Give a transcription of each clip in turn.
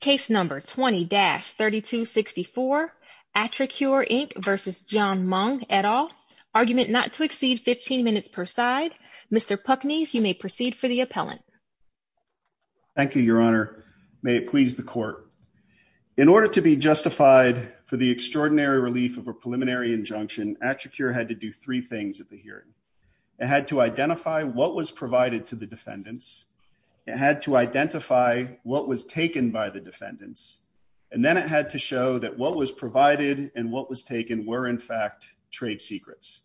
Case number 20-3264 AtriCure Inc v. Jian Meng et al. Argument not to exceed 15 minutes per side. Mr. Pucnes, you may proceed for the appellant. Thank you, Your Honor. May it please the court. In order to be justified for the extraordinary relief of a preliminary injunction, AtriCure had to do three things at the hearing. It had to identify what was provided to the defendants. It had to identify what was taken by the defendants. And then it had to show that what was provided and what was taken were, in fact, trade secrets.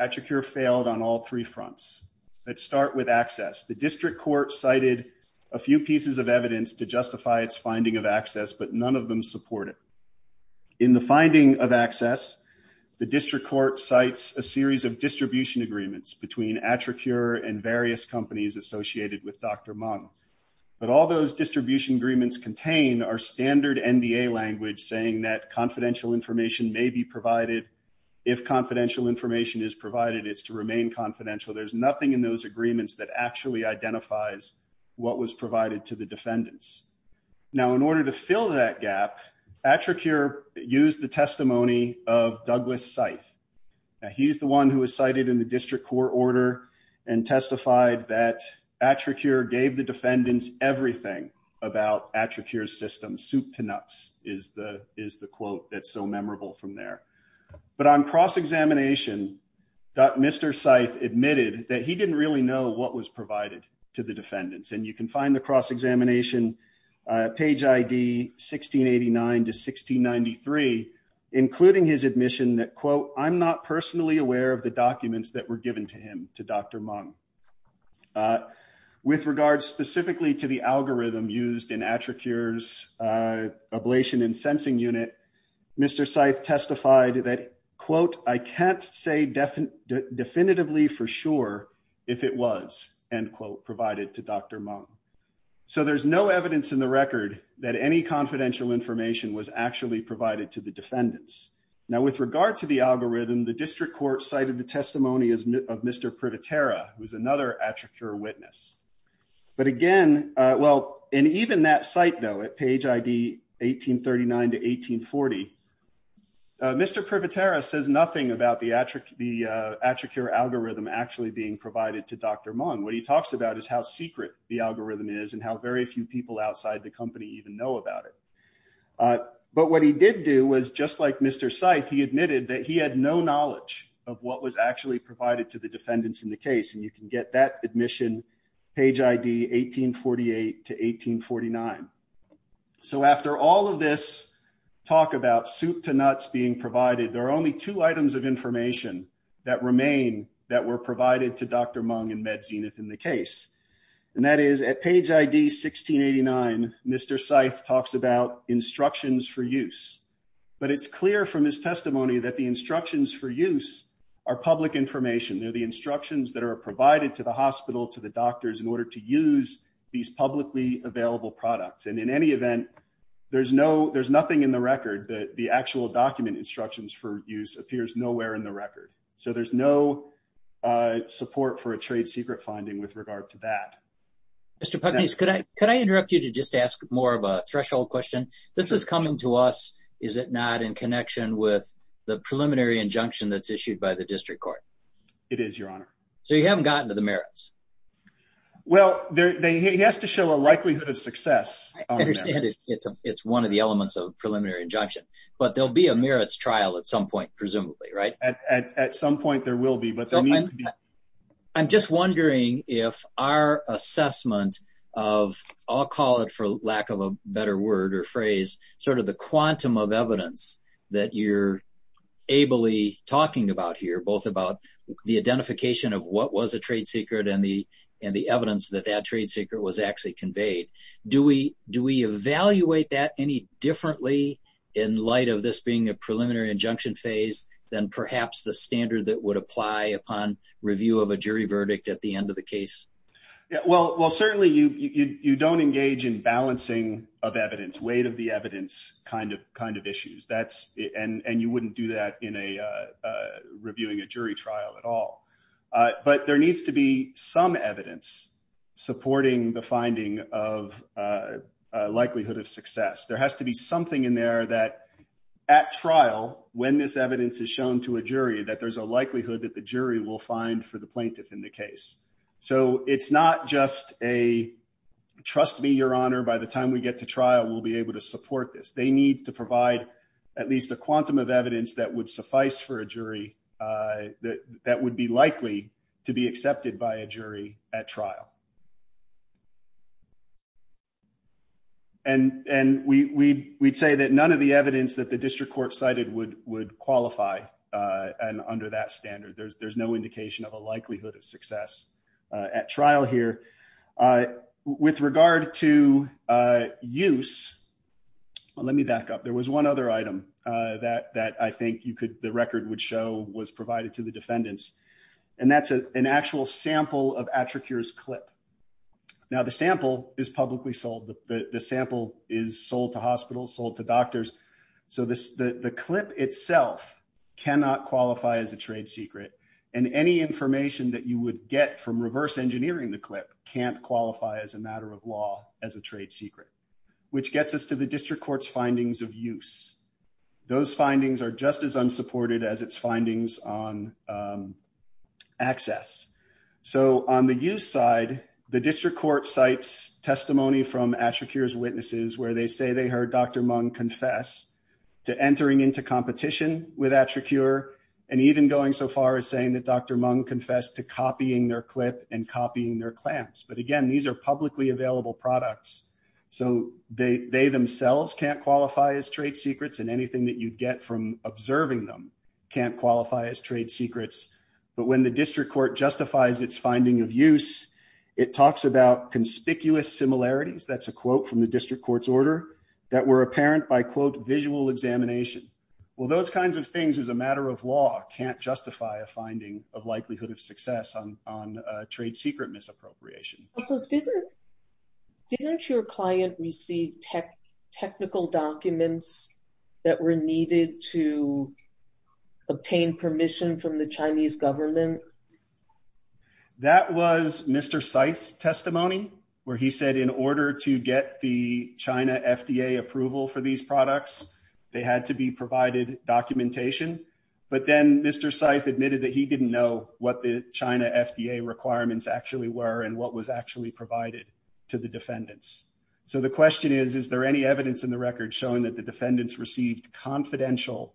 AtriCure failed on all three fronts. Let's start with access. The district court cited a few pieces of evidence to justify its finding of access, but none of them supported. In the finding of access, the district court cites a series of distribution agreements between AtriCure and various companies associated with Dr. Meng. But all those distribution agreements contain our standard NDA language saying that confidential information may be provided. If confidential information is provided, it's to remain confidential. There's nothing in those agreements that actually identifies what was provided to the defendants. Now, in order to fill that gap, AtriCure used the testimony of Douglas Seif. Now, he's the one who was cited in the district court order and testified that AtriCure gave the defendants everything about AtriCure's system. Soup to nuts is the quote that's so memorable from there. But on cross-examination, Mr. Seif admitted that he didn't really know what was provided to the defendants. And you can find the cross-examination page ID 1689 to 1693, including his admission that, quote, I'm not personally aware of the Dr. Meng. With regards specifically to the algorithm used in AtriCure's ablation and sensing unit, Mr. Seif testified that, quote, I can't say definitively for sure if it was, end quote, provided to Dr. Meng. So there's no evidence in the record that any confidential information was actually provided to the defendants. Now, with regard to the algorithm, the district court cited the testimony of Mr. Privatera, who's another AtriCure witness. But again, well, and even that site, though, at page ID 1839 to 1840, Mr. Privatera says nothing about the AtriCure algorithm actually being provided to Dr. Meng. What he talks about is how secret the algorithm is and how very few people outside the company even know about it. But what he did do was, just like Mr. Seif, he admitted that he had no knowledge of what was actually provided to the defendants in the case. And you can get that admission page ID 1848 to 1849. So after all of this talk about soup to nuts being provided, there are only two items of information that remain that were provided to Dr. Meng and Mr. Seif talks about instructions for use. But it's clear from his testimony that the instructions for use are public information. They're the instructions that are provided to the hospital, to the doctors in order to use these publicly available products. And in any event, there's nothing in the record that the actual document instructions for use appears nowhere in the record. So there's no support for a trade secret finding with regard to that. Mr. Pugnese, could I interrupt you to just ask more of a threshold question? This is coming to us, is it not, in connection with the preliminary injunction that's issued by the district court? It is, your honor. So you haven't gotten to the merits? Well, it has to show a likelihood of success. I understand it's one of the elements of preliminary injunction, but there'll be a merits trial at some point, presumably, right? At some point there will be, but there needs to be. I'm just wondering if our assessment of, I'll call it for lack of a better word or phrase, sort of the quantum of evidence that you're ably talking about here, both about the identification of what was a trade secret and the evidence that that trade secret was actually conveyed. Do we evaluate that any differently in light of this being a preliminary injunction phase than perhaps the standard that would apply upon review of a jury verdict at the end of the case? Well, certainly you don't engage in balancing of evidence, weight of the evidence kind of issues, and you wouldn't do that in reviewing a jury trial at all. But there needs to be some evidence supporting the finding of likelihood of success. There has to be something in there that at trial, when this evidence is shown to a jury, that there's a likelihood that the jury will find for the plaintiff in the case. So it's not just a, trust me, your honor, by the time we get to trial, we'll be able to support this. They need to provide at least the quantum of evidence that would suffice for a jury that would be likely to be accepted by a jury at trial. And we'd say that none of the evidence that the district court cited would qualify under that standard. There's no indication of a likelihood of success at trial here. With regard to use, let me back up. There was one other item that I think you could, the record would show was provided to the defendants, and that's an actual sample of the clip. Now the sample is publicly sold. The sample is sold to hospitals, sold to doctors. So the clip itself cannot qualify as a trade secret. And any information that you would get from reverse engineering the clip can't qualify as a matter of law as a trade secret, which gets us to the district court's findings of use. Those findings are just as unsupported as its findings on access. So on the use side, the district court cites testimony from Attracure's witnesses, where they say they heard Dr. Mung confess to entering into competition with Attracure, and even going so far as saying that Dr. Mung confessed to copying their clip and copying their clamps. But again, these are publicly available products. So they themselves can't qualify as trade secrets. But when the district court justifies its finding of use, it talks about conspicuous similarities, that's a quote from the district court's order, that were apparent by quote, visual examination. Well, those kinds of things as a matter of law can't justify a finding of likelihood of success on trade secret misappropriation. So didn't your client receive technical documents that were needed to obtain permission from the Chinese government? That was Mr. Seitz's testimony, where he said in order to get the China FDA approval for these products, they had to be provided documentation. But then Mr. Seitz admitted that he didn't know what the China FDA requirements actually were, and what was actually provided to the defendants. So the question is, is there any evidence in the record showing that the defendants received confidential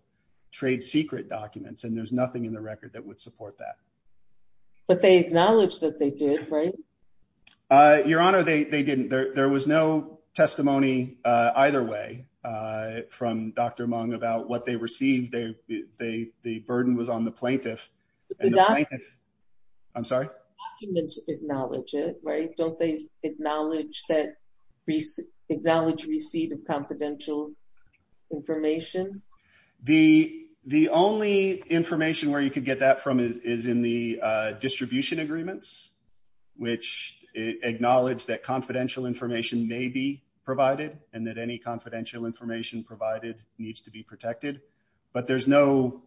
trade secret documents, and there's nothing in the record that would support that. But they acknowledged that they did, right? Your Honor, they didn't. There was no testimony either way, from Dr. Mung about what they Don't they acknowledge receipt of confidential information? The only information where you could get that from is in the distribution agreements, which acknowledge that confidential information may be provided, and that any confidential information provided needs to be protected. But there's no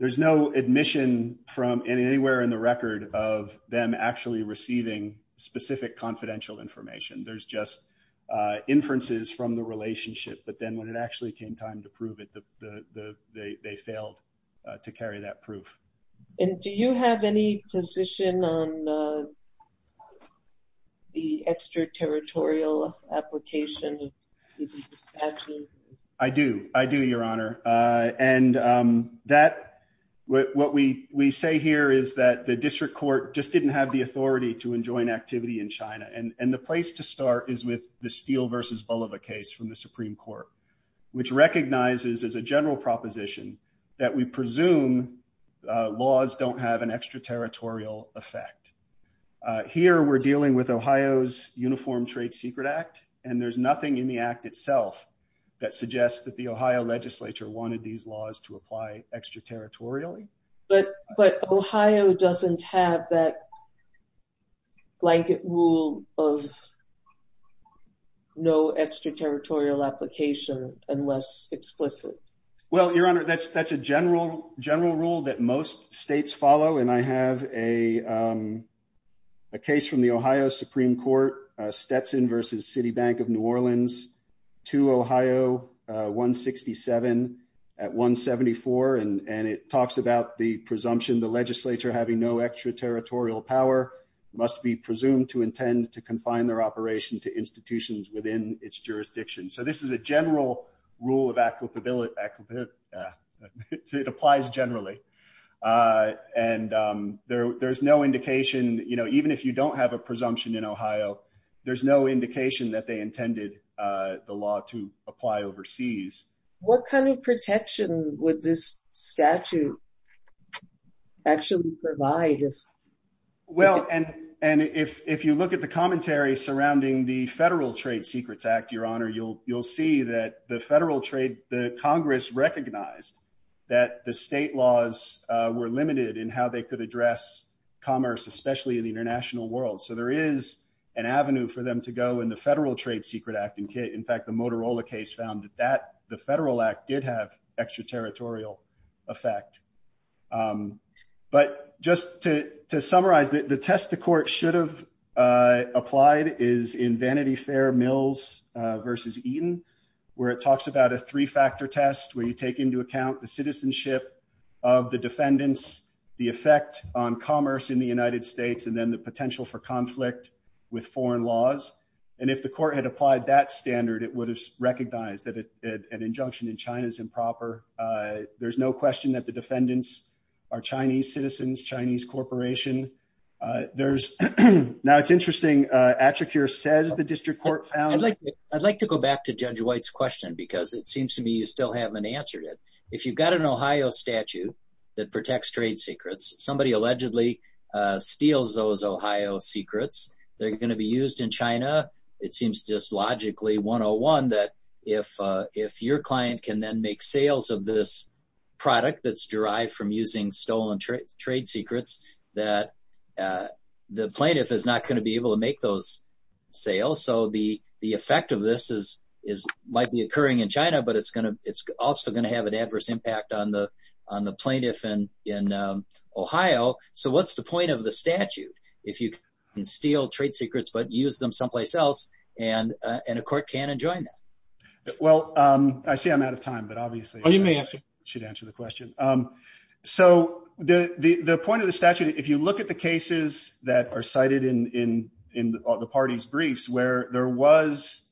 admission from anywhere in the specific confidential information. There's just inferences from the relationship, but then when it actually came time to prove it, they failed to carry that proof. And do you have any position on the extraterritorial application? I do. I do, Your Honor. And what we say here is that district court just didn't have the authority to enjoin activity in China. And the place to start is with the Steele versus Bulova case from the Supreme Court, which recognizes as a general proposition that we presume laws don't have an extraterritorial effect. Here we're dealing with Ohio's Uniform Trade Secret Act, and there's nothing in the act itself that suggests that Ohio legislature wanted these laws to apply extraterritorially. But Ohio doesn't have that blanket rule of no extraterritorial application unless explicit. Well, Your Honor, that's a general rule that most states follow. And I have a case from the Ohio Supreme Court, Stetson versus Citibank of New Orleans to Ohio 167 at 174. And it talks about the presumption the legislature having no extraterritorial power must be presumed to intend to confine their operation to institutions within its jurisdiction. So this is a general rule of applicability. It applies generally. And there's no indication, you know, even if you don't have a presumption in there's no indication that they intended the law to apply overseas. What kind of protection would this statute actually provide? Well, and if you look at the commentary surrounding the Federal Trade Secrets Act, Your Honor, you'll see that the Congress recognized that the state laws were limited in how they could address commerce, especially in the international world. So there is an avenue for them to go in the Federal Trade Secret Act. In fact, the Motorola case found that the Federal Act did have extraterritorial effect. But just to summarize, the test the court should have applied is in Vanity Fair Mills versus Eaton, where it talks about a three-factor test where you take into account the citizenship of the defendants, the effect on commerce in the with foreign laws. And if the court had applied that standard, it would have recognized that an injunction in China is improper. There's no question that the defendants are Chinese citizens, Chinese corporation. Now it's interesting, Attracure says the district court found... I'd like to go back to Judge White's question because it seems to me you still haven't answered it. If you've got an Ohio statute that protects trade secrets, somebody allegedly steals those and they're going to be used in China, it seems just logically 101 that if your client can then make sales of this product that's derived from using stolen trade secrets, that the plaintiff is not going to be able to make those sales. So the effect of this might be occurring in China, but it's also going to have an adverse impact on the plaintiff in Ohio. So what's the point of the statute if you can steal trade secrets but use them someplace else and a court can enjoin that? Well, I see I'm out of time, but obviously you may answer should answer the question. So the point of the statute, if you look at the cases that are cited in the party's briefs where there was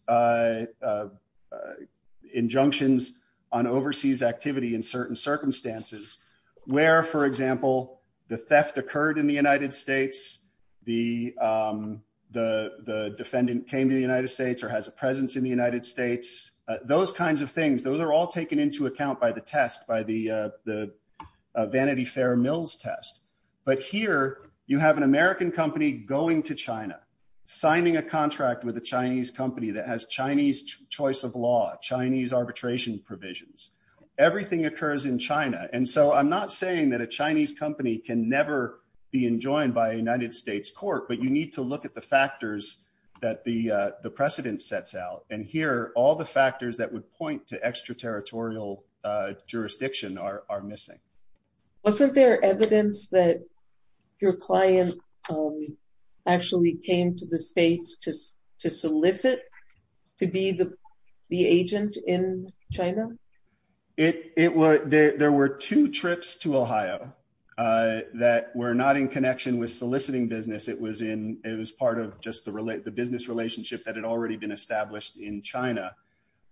injunctions on overseas activity in certain circumstances where, for example, the theft occurred in the United States, the defendant came to the United States or has a presence in the United States, those kinds of things, those are all taken into account by the test, by the Vanity Fair Mills test. But here you have an American company going to China, signing a contract with a Chinese company that has Chinese choice of law, Chinese arbitration provisions. Everything occurs in China. And so I'm not saying that a Chinese company can never be enjoined by a United States court, but you need to look at the factors that the precedent sets out. And here all the factors that would point to extraterritorial jurisdiction are missing. Wasn't there evidence that your client actually came to the States to solicit to be the agent in China? There were two trips to Ohio that were not in connection with soliciting business. It was part of just the business relationship that had already been established in China.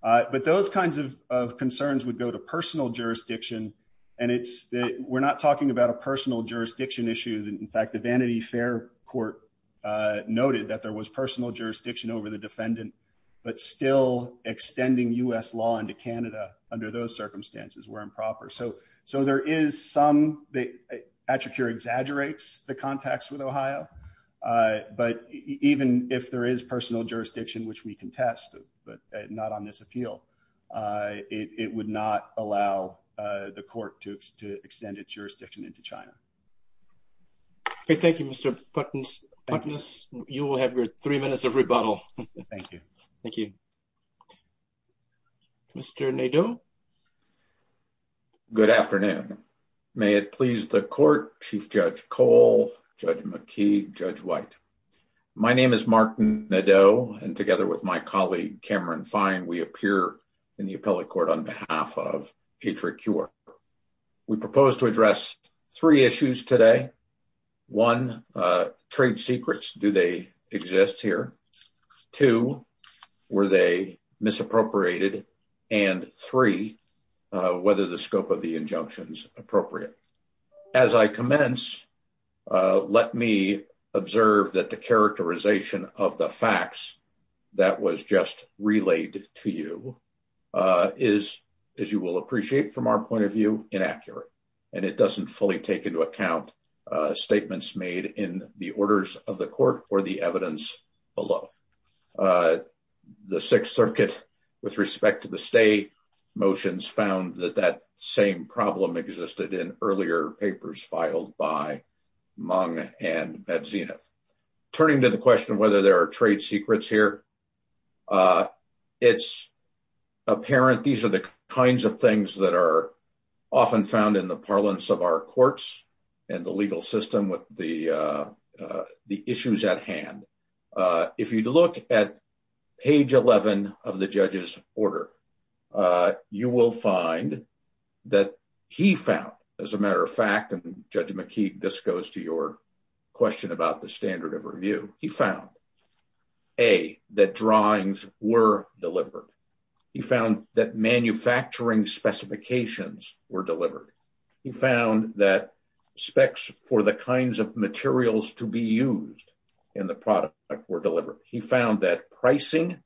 But those kinds of concerns would go to personal jurisdiction. And we're not talking about personal jurisdiction issue. In fact, the Vanity Fair court noted that there was personal jurisdiction over the defendant, but still extending U.S. law into Canada under those circumstances were improper. So there is some, Attracur exaggerates the contacts with Ohio, but even if there is personal jurisdiction, which we contest, but not on this appeal, it would not allow the court to extend its jurisdiction into China. Okay. Thank you, Mr. Putness. You will have your three minutes of rebuttal. Thank you. Thank you. Mr. Nadeau. Good afternoon. May it please the court, Chief Judge Cole, Judge McKee, Judge White. My name is Martin Nadeau and together with my colleague, Cameron Fine, we appear in the appellate court on behalf of Attracur. We propose to address three issues today. One, trade secrets, do they exist here? Two, were they misappropriated? And three, whether the scope of the injunctions appropriate. As I commence, let me observe that the characterization of the facts that was just relayed to you is, as you will appreciate from our point of view, inaccurate. And it doesn't fully take into account statements made in the orders of the court or the evidence below. The Sixth Circuit, with respect to the stay motions, found that that same problem existed in earlier papers filed by Meng and Medzinev. Turning to the question of whether there are trade secrets here, it's apparent these are the kinds of things that are often found in the order. If you look at page 11 of the judge's order, you will find that he found, as a matter of fact, and Judge McKee, this goes to your question about the standard of review, he found A, that drawings were delivered. He found that manufacturing specifications were delivered. He found that specs for the kinds of materials to be used in the product were delivered. He found that pricing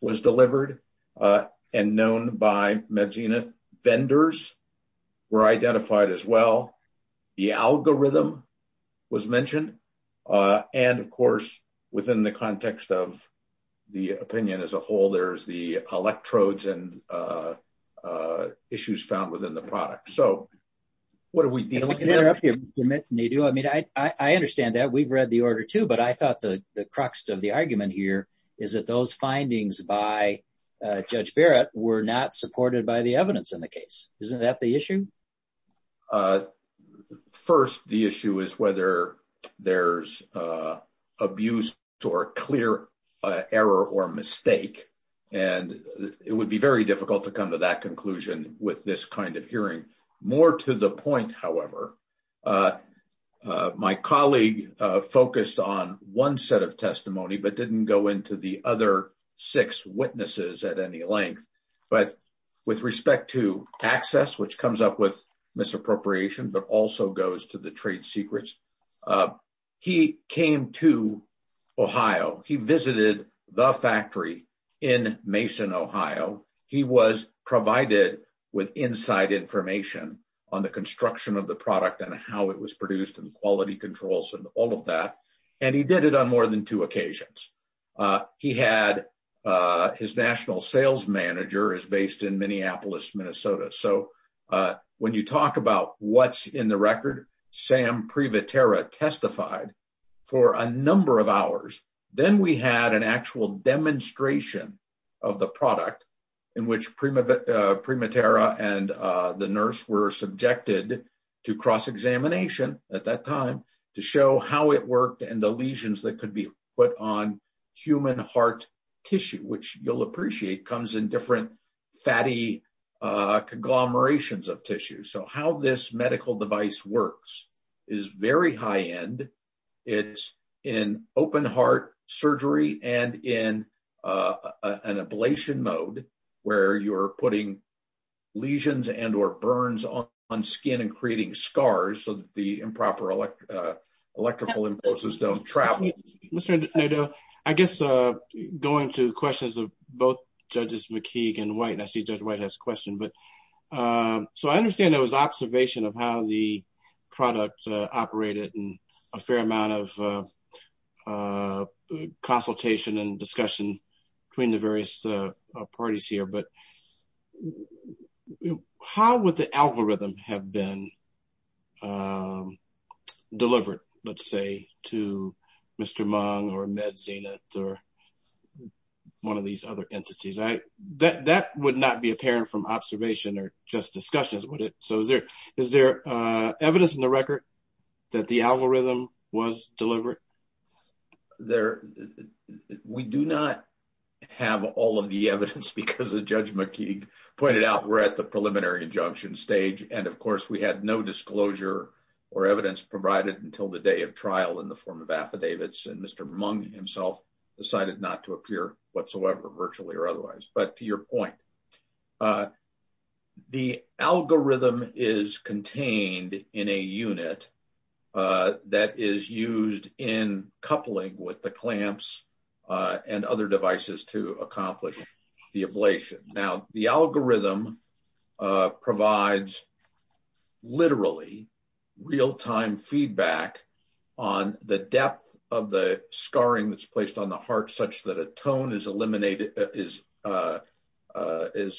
was delivered and known by Medzinev. Vendors were identified as well. The algorithm was mentioned. And, of course, within the context of the opinion as a whole, there's the electrodes and issues found within the product. So, what are we dealing with here? I mean, I understand that. We've read the order too. But I thought the crux of the argument here is that those findings by Judge Barrett were not supported by the evidence in the case. Isn't that the issue? First, the issue is whether there's abuse or clear error or mistake. And it would be very difficult to come to that conclusion with this kind of hearing. More to the point, however, my colleague focused on one set of testimony but didn't go into the other six witnesses at any length. But with respect to access, which comes up with misappropriation but also goes to the trade secrets, he came to Ohio. He visited the factory in Mason, Ohio. He was provided with inside information on the construction of the product and how it was produced and quality controls and all of that. And he did it on more than two occasions. His national sales manager is based in Minneapolis, Minnesota. So, when you talk what's in the record, Sam Prevatera testified for a number of hours. Then we had an actual demonstration of the product in which Prevatera and the nurse were subjected to cross-examination at that time to show how it worked and the lesions that could be put on human heart tissue, which you'll appreciate comes in different fatty conglomerations of tissue. So, how this medical device works is very high-end. It's in open heart surgery and in an ablation mode where you're putting lesions and or burns on skin and creating scars so that the improper electrical impulses don't travel. Mr. Nadeau, I guess going to questions of both Judges McKeague and White, and I see Judge White has a question. So, I understand there was observation of how the product operated and a fair amount of consultation and discussion between the various parties here, but how would the algorithm have been delivered, let's say, to Mr. Mung or MedZenith or one of these other entities? That would not be apparent from observation or just discussions, would it? So, is there evidence in the record that the algorithm was delivered? We do not have all of the evidence because of Judge McKeague pointed out we're at the preliminary injunction stage, and of course, we had no disclosure or evidence provided until the day of trial in the form of affidavits, and Mr. Mung himself decided not to appear whatsoever, virtually or otherwise. But to your point, the algorithm is contained in a unit that is used in coupling with the clamps and other devices to accomplish the ablation. Now, the algorithm provides literally real-time feedback on the depth of the scarring that's placed on the heart such that a tone is eliminated, is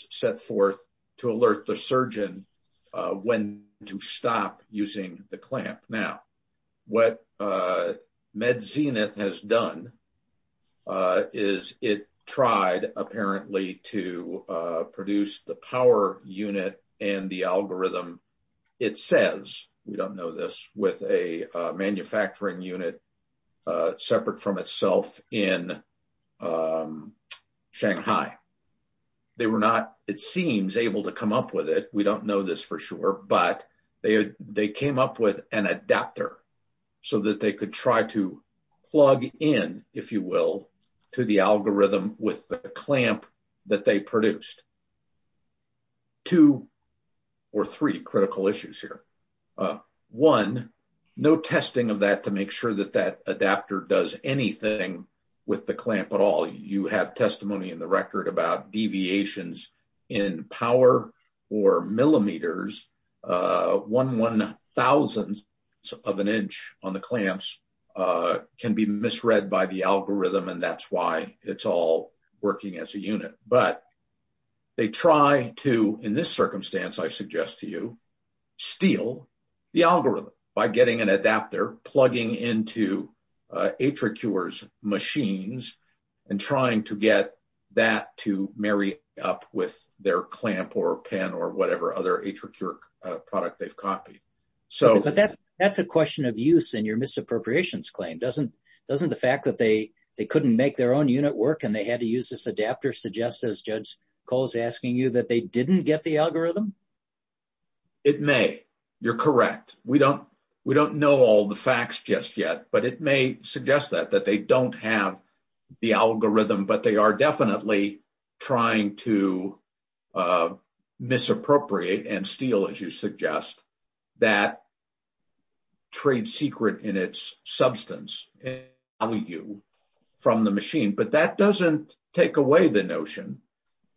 set forth to alert the surgeon when to stop using the clamp. Now, what MedZenith has done is it tried apparently to produce the power unit and the algorithm. It says, we don't know this, with a manufacturing unit separate from itself in Shanghai. They were not, it seems, able to come up with it. We don't know this for sure, but they came up with an adapter so that they could try to plug in, if you will, to the algorithm with the clamp that they produced. Two or three critical issues here. One, no testing of that to make sure that that adapter does anything with the clamp at all. You have testimony in the record about deviations in power or millimeters. One one thousandth of an inch on the clamps can be misread by the algorithm, and that's why it's all working as a unit. But they try to, in this circumstance I suggest to you, steal the algorithm by getting an adapter, plugging into Atricure's machines, and trying to get that to marry up with their clamp or pen or whatever other Atricure product they've copied. But that's a question of use in your misappropriations claim. Doesn't the fact that they couldn't make their own unit work and they had to use this adapter suggest, as Judge Cole is asking you, that they didn't get the algorithm? It may. You're correct. We don't know all the facts just yet, but it may suggest that, that they don't have the algorithm. But they are definitely trying to misappropriate and steal, as you suggest, that trade secret in its substance and value from the machine. But that doesn't take away the notion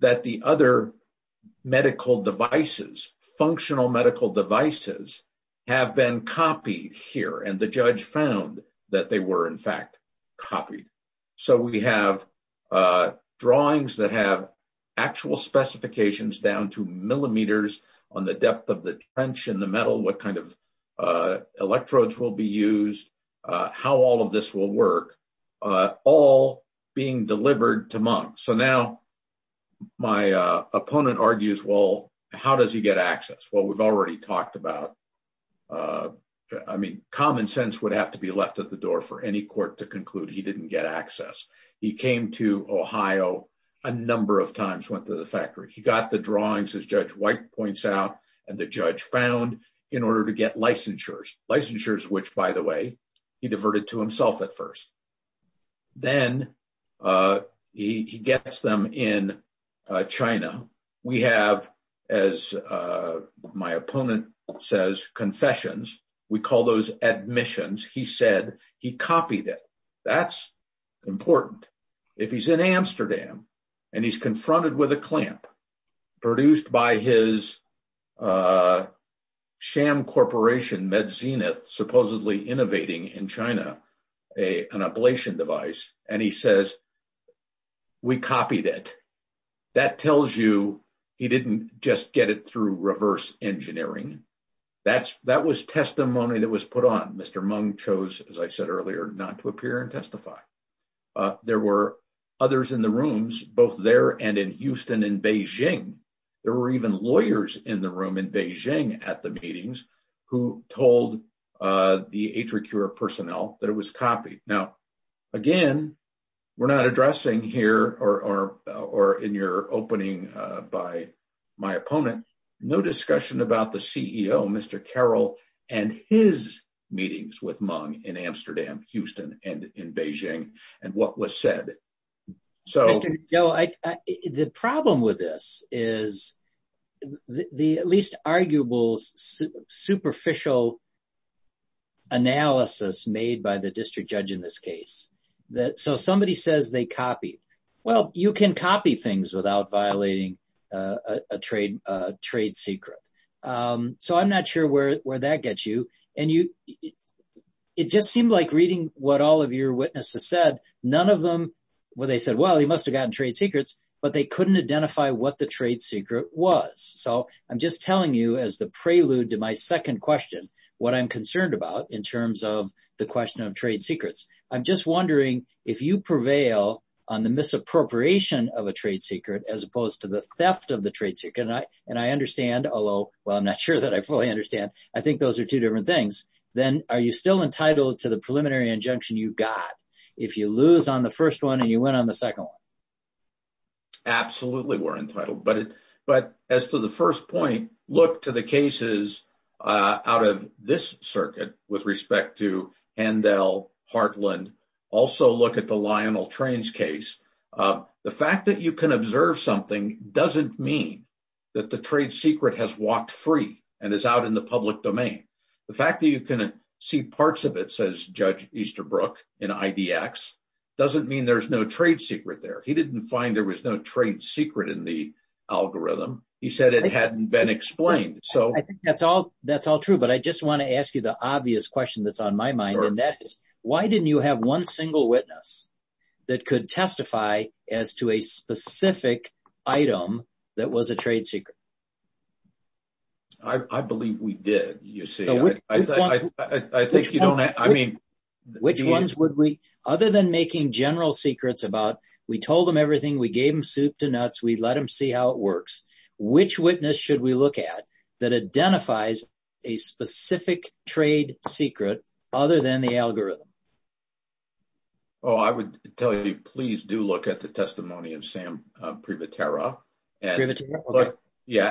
that the other medical devices, functional medical devices, have been copied here. And the judge found that they were in fact copied. So we have drawings that have actual specifications down to millimeters on the depth of the trench in the metal, what kind of electrodes will be used, how all of this will work, all being delivered to Munk. So now my opponent argues, well, how does he get access? Well, we've already talked about, I mean, common sense would have to be left at the door for any court to conclude he didn't get access. He came to Ohio a number of times, went to the factory. He got the drawings, as Judge White points out, and the judge found, in order to get licensures. Licensures which, by the way, he diverted to himself at first. Then he gets them in China. We have, as my opponent says, confessions. We call those admissions. He said he copied it. That's important. If he's in Amsterdam and he's confronted with a clamp produced by his sham corporation, MedZenith, supposedly innovating in China, an ablation device, and he says, we copied it. That tells you he didn't just get it through reverse engineering. That was testimony that was put on. Mr. Munk chose, as I said earlier, not to appear and testify. There were others in the rooms, both there and in Houston and Beijing. There were even lawyers in the room in Beijing at the meetings who told the Atricure personnel that it was copied. Now, again, we're not addressing here, or in your opening by my in Beijing, and what was said. Mr. Joe, the problem with this is the at least arguable superficial analysis made by the district judge in this case. Somebody says they copied. Well, you can copy things without violating a trade secret. I'm not sure where that gets you. It just seemed like reading what all of your witnesses said, none of them said, well, he must have gotten trade secrets, but they couldn't identify what the trade secret was. I'm just telling you as the prelude to my second question, what I'm concerned about in terms of the question of trade secrets. I'm just wondering if you prevail on the misappropriation of a trade secret as opposed to the theft of the trade secret. I understand, although I'm not sure that I fully understand. I think those are two different things. Then are you still entitled to the preliminary injunction you got if you lose on the first one and you went on the second one? Absolutely, we're entitled, but as to the first point, look to the cases out of this circuit with respect to Handel, Heartland, also look at the Lionel Trains case. The fact that you can find a trade secret that is out in the public domain, the fact that you can see parts of it, says Judge Easterbrook in IDX, doesn't mean there's no trade secret there. He didn't find there was no trade secret in the algorithm. He said it hadn't been explained. I think that's all true, but I just want to ask you the obvious question that's on my mind, and that is, why didn't you have one single witness that could testify as to a specific item that was a trade secret? I believe we did. Other than making general secrets about, we told them everything, we gave them soup to nuts, we let them see how it works, which witness should we look at that identifies a specific trade secret other than the algorithm? I would tell you, please do look at the tariff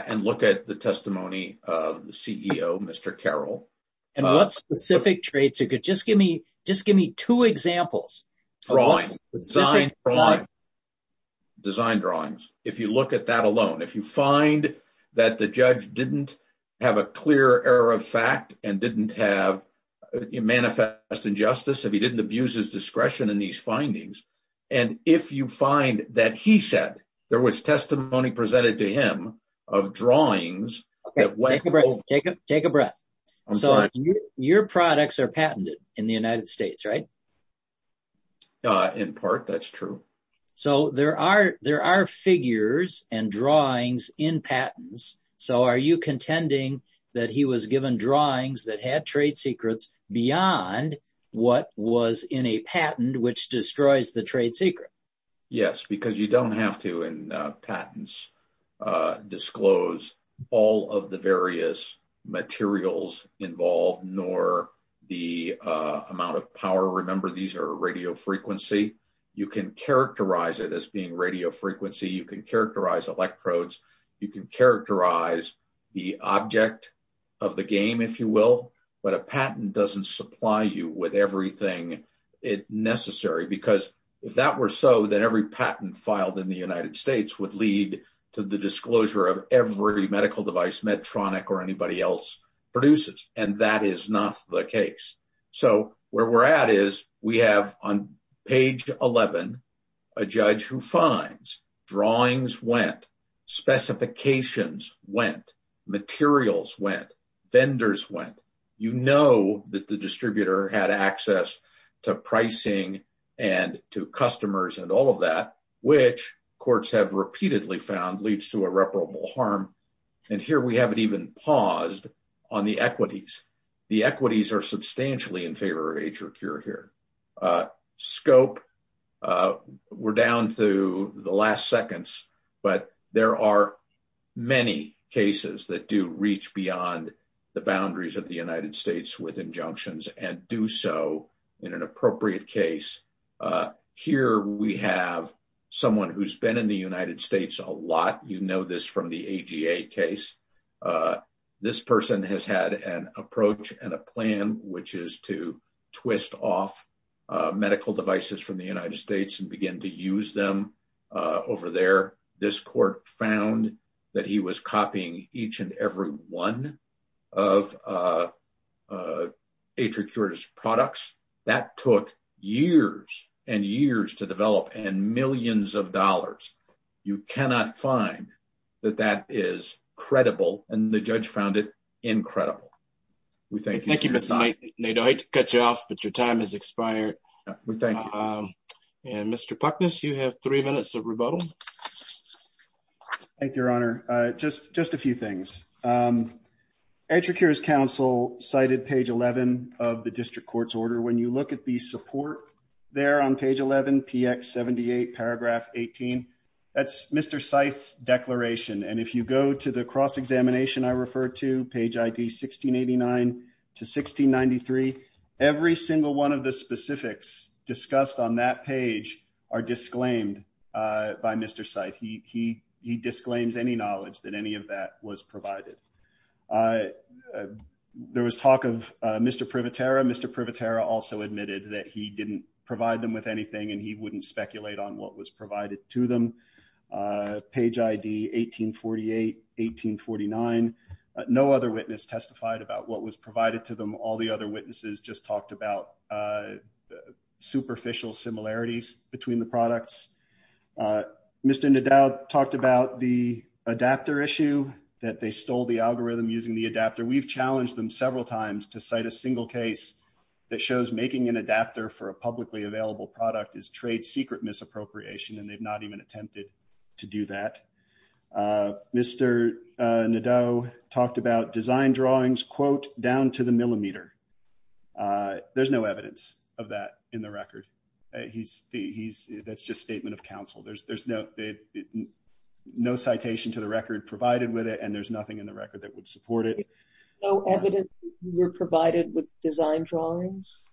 and look at the testimony of the CEO, Mr. Carroll. What specific trade secret? Just give me two examples. Design drawings. If you look at that alone, if you find that the judge didn't have a clear error of fact and didn't manifest injustice, if he didn't abuse his discretion in these findings, and if you find that he said there was testimony presented to him of drawings... Take a breath. Your products are patented in the United States, right? In part, that's true. There are figures and drawings in patents, so are you contending that he was given drawings that had trade secrets beyond what was in a patent? Yes, because you don't have to in patents disclose all of the various materials involved, nor the amount of power. Remember, these are radio frequency. You can characterize it as being radio frequency. You can characterize electrodes. You can characterize the object of the game, if you will, but a patent doesn't supply you with everything necessary, because if that were so, then every patent filed in the United States would lead to the disclosure of every medical device Medtronic or anybody else produces, and that is not the case. So where we're at is we have on page 11 a judge who finds drawings went, specifications went, materials went, vendors went. You know that the distributor had access to pricing and to customers and all of that, which courts have repeatedly found leads to irreparable harm, and here we haven't even paused on the equities. The equities are substantially in favor of HRQ here. Scope, we're down to the last seconds, but there are many cases that do reach beyond the boundaries of the United States with injunctions and do so in an appropriate case. Here we have someone who's been in the United States a lot. You know this from the AGA case. This person has had an approach and a plan, which is to this court found that he was copying each and every one of HRQ's products. That took years and years to develop and millions of dollars. You cannot find that that is credible, and the judge found it incredible. We thank you. Thank you, Mr. Nadeau. I hate to cut you off, but your time has expired. Thank you. Mr. Puckness, you have three minutes of rebuttal. Thank you, Your Honor. Just a few things. HRQ's counsel cited page 11 of the district court's order. When you look at the support there on page 11, px 78 paragraph 18, that's Mr. Seitz's declaration, and if you go to the cross-examination I referred to, page id 1689 to 1693, every single one of the specifics discussed on that page are disclaimed by Mr. Seitz. He disclaims any knowledge that any of that was provided. There was talk of Mr. Privatera. Mr. Privatera also admitted that he didn't provide them with anything, and he wouldn't speculate on what was provided to them. Page id 1848, 1849, no other witness testified about what was provided to them. All the other witnesses just talked about superficial similarities between the products. Mr. Nadeau talked about the adapter issue, that they stole the algorithm using the adapter. We've challenged them several times to cite a single case that shows making an adapter for a publicly available product is trade secret misappropriation, and they've not even attempted to do that. Mr. Nadeau talked about design drawings, quote, down to the millimeter. There's no evidence of that in the record. That's just statement of counsel. There's no citation to the record provided with it, and there's nothing in the record that would support it. No evidence were provided with design drawings?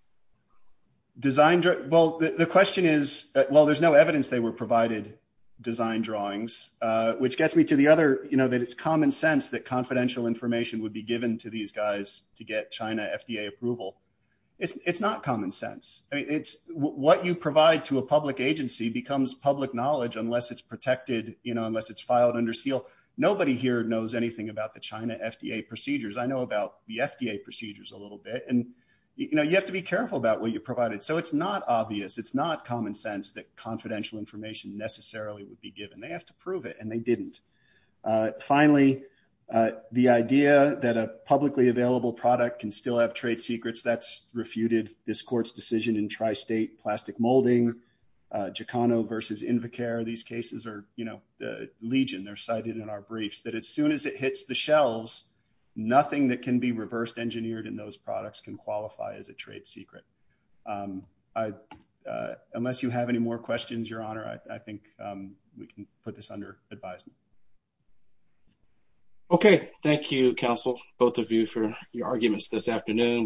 Design? Well, the question is, well, there's no evidence they were provided design drawings, which gets me to the other, you know, that it's common sense that confidential information would be given to these guys to get China FDA approval. It's not common sense. I mean, it's what you provide to a public agency becomes public knowledge unless it's protected, you know, the China FDA procedures. I know about the FDA procedures a little bit, and, you know, you have to be careful about what you provided, so it's not obvious. It's not common sense that confidential information necessarily would be given. They have to prove it, and they didn't. Finally, the idea that a publicly available product can still have trade secrets, that's refuted. This court's decision in tri-state plastic molding, Jocano versus Invacare, these cases are, Legion, they're cited in our briefs, that as soon as it hits the shelves, nothing that can be reversed engineered in those products can qualify as a trade secret. Unless you have any more questions, Your Honor, I think we can put this under advisement. Okay. Thank you, counsel, both of you, for your arguments this afternoon. We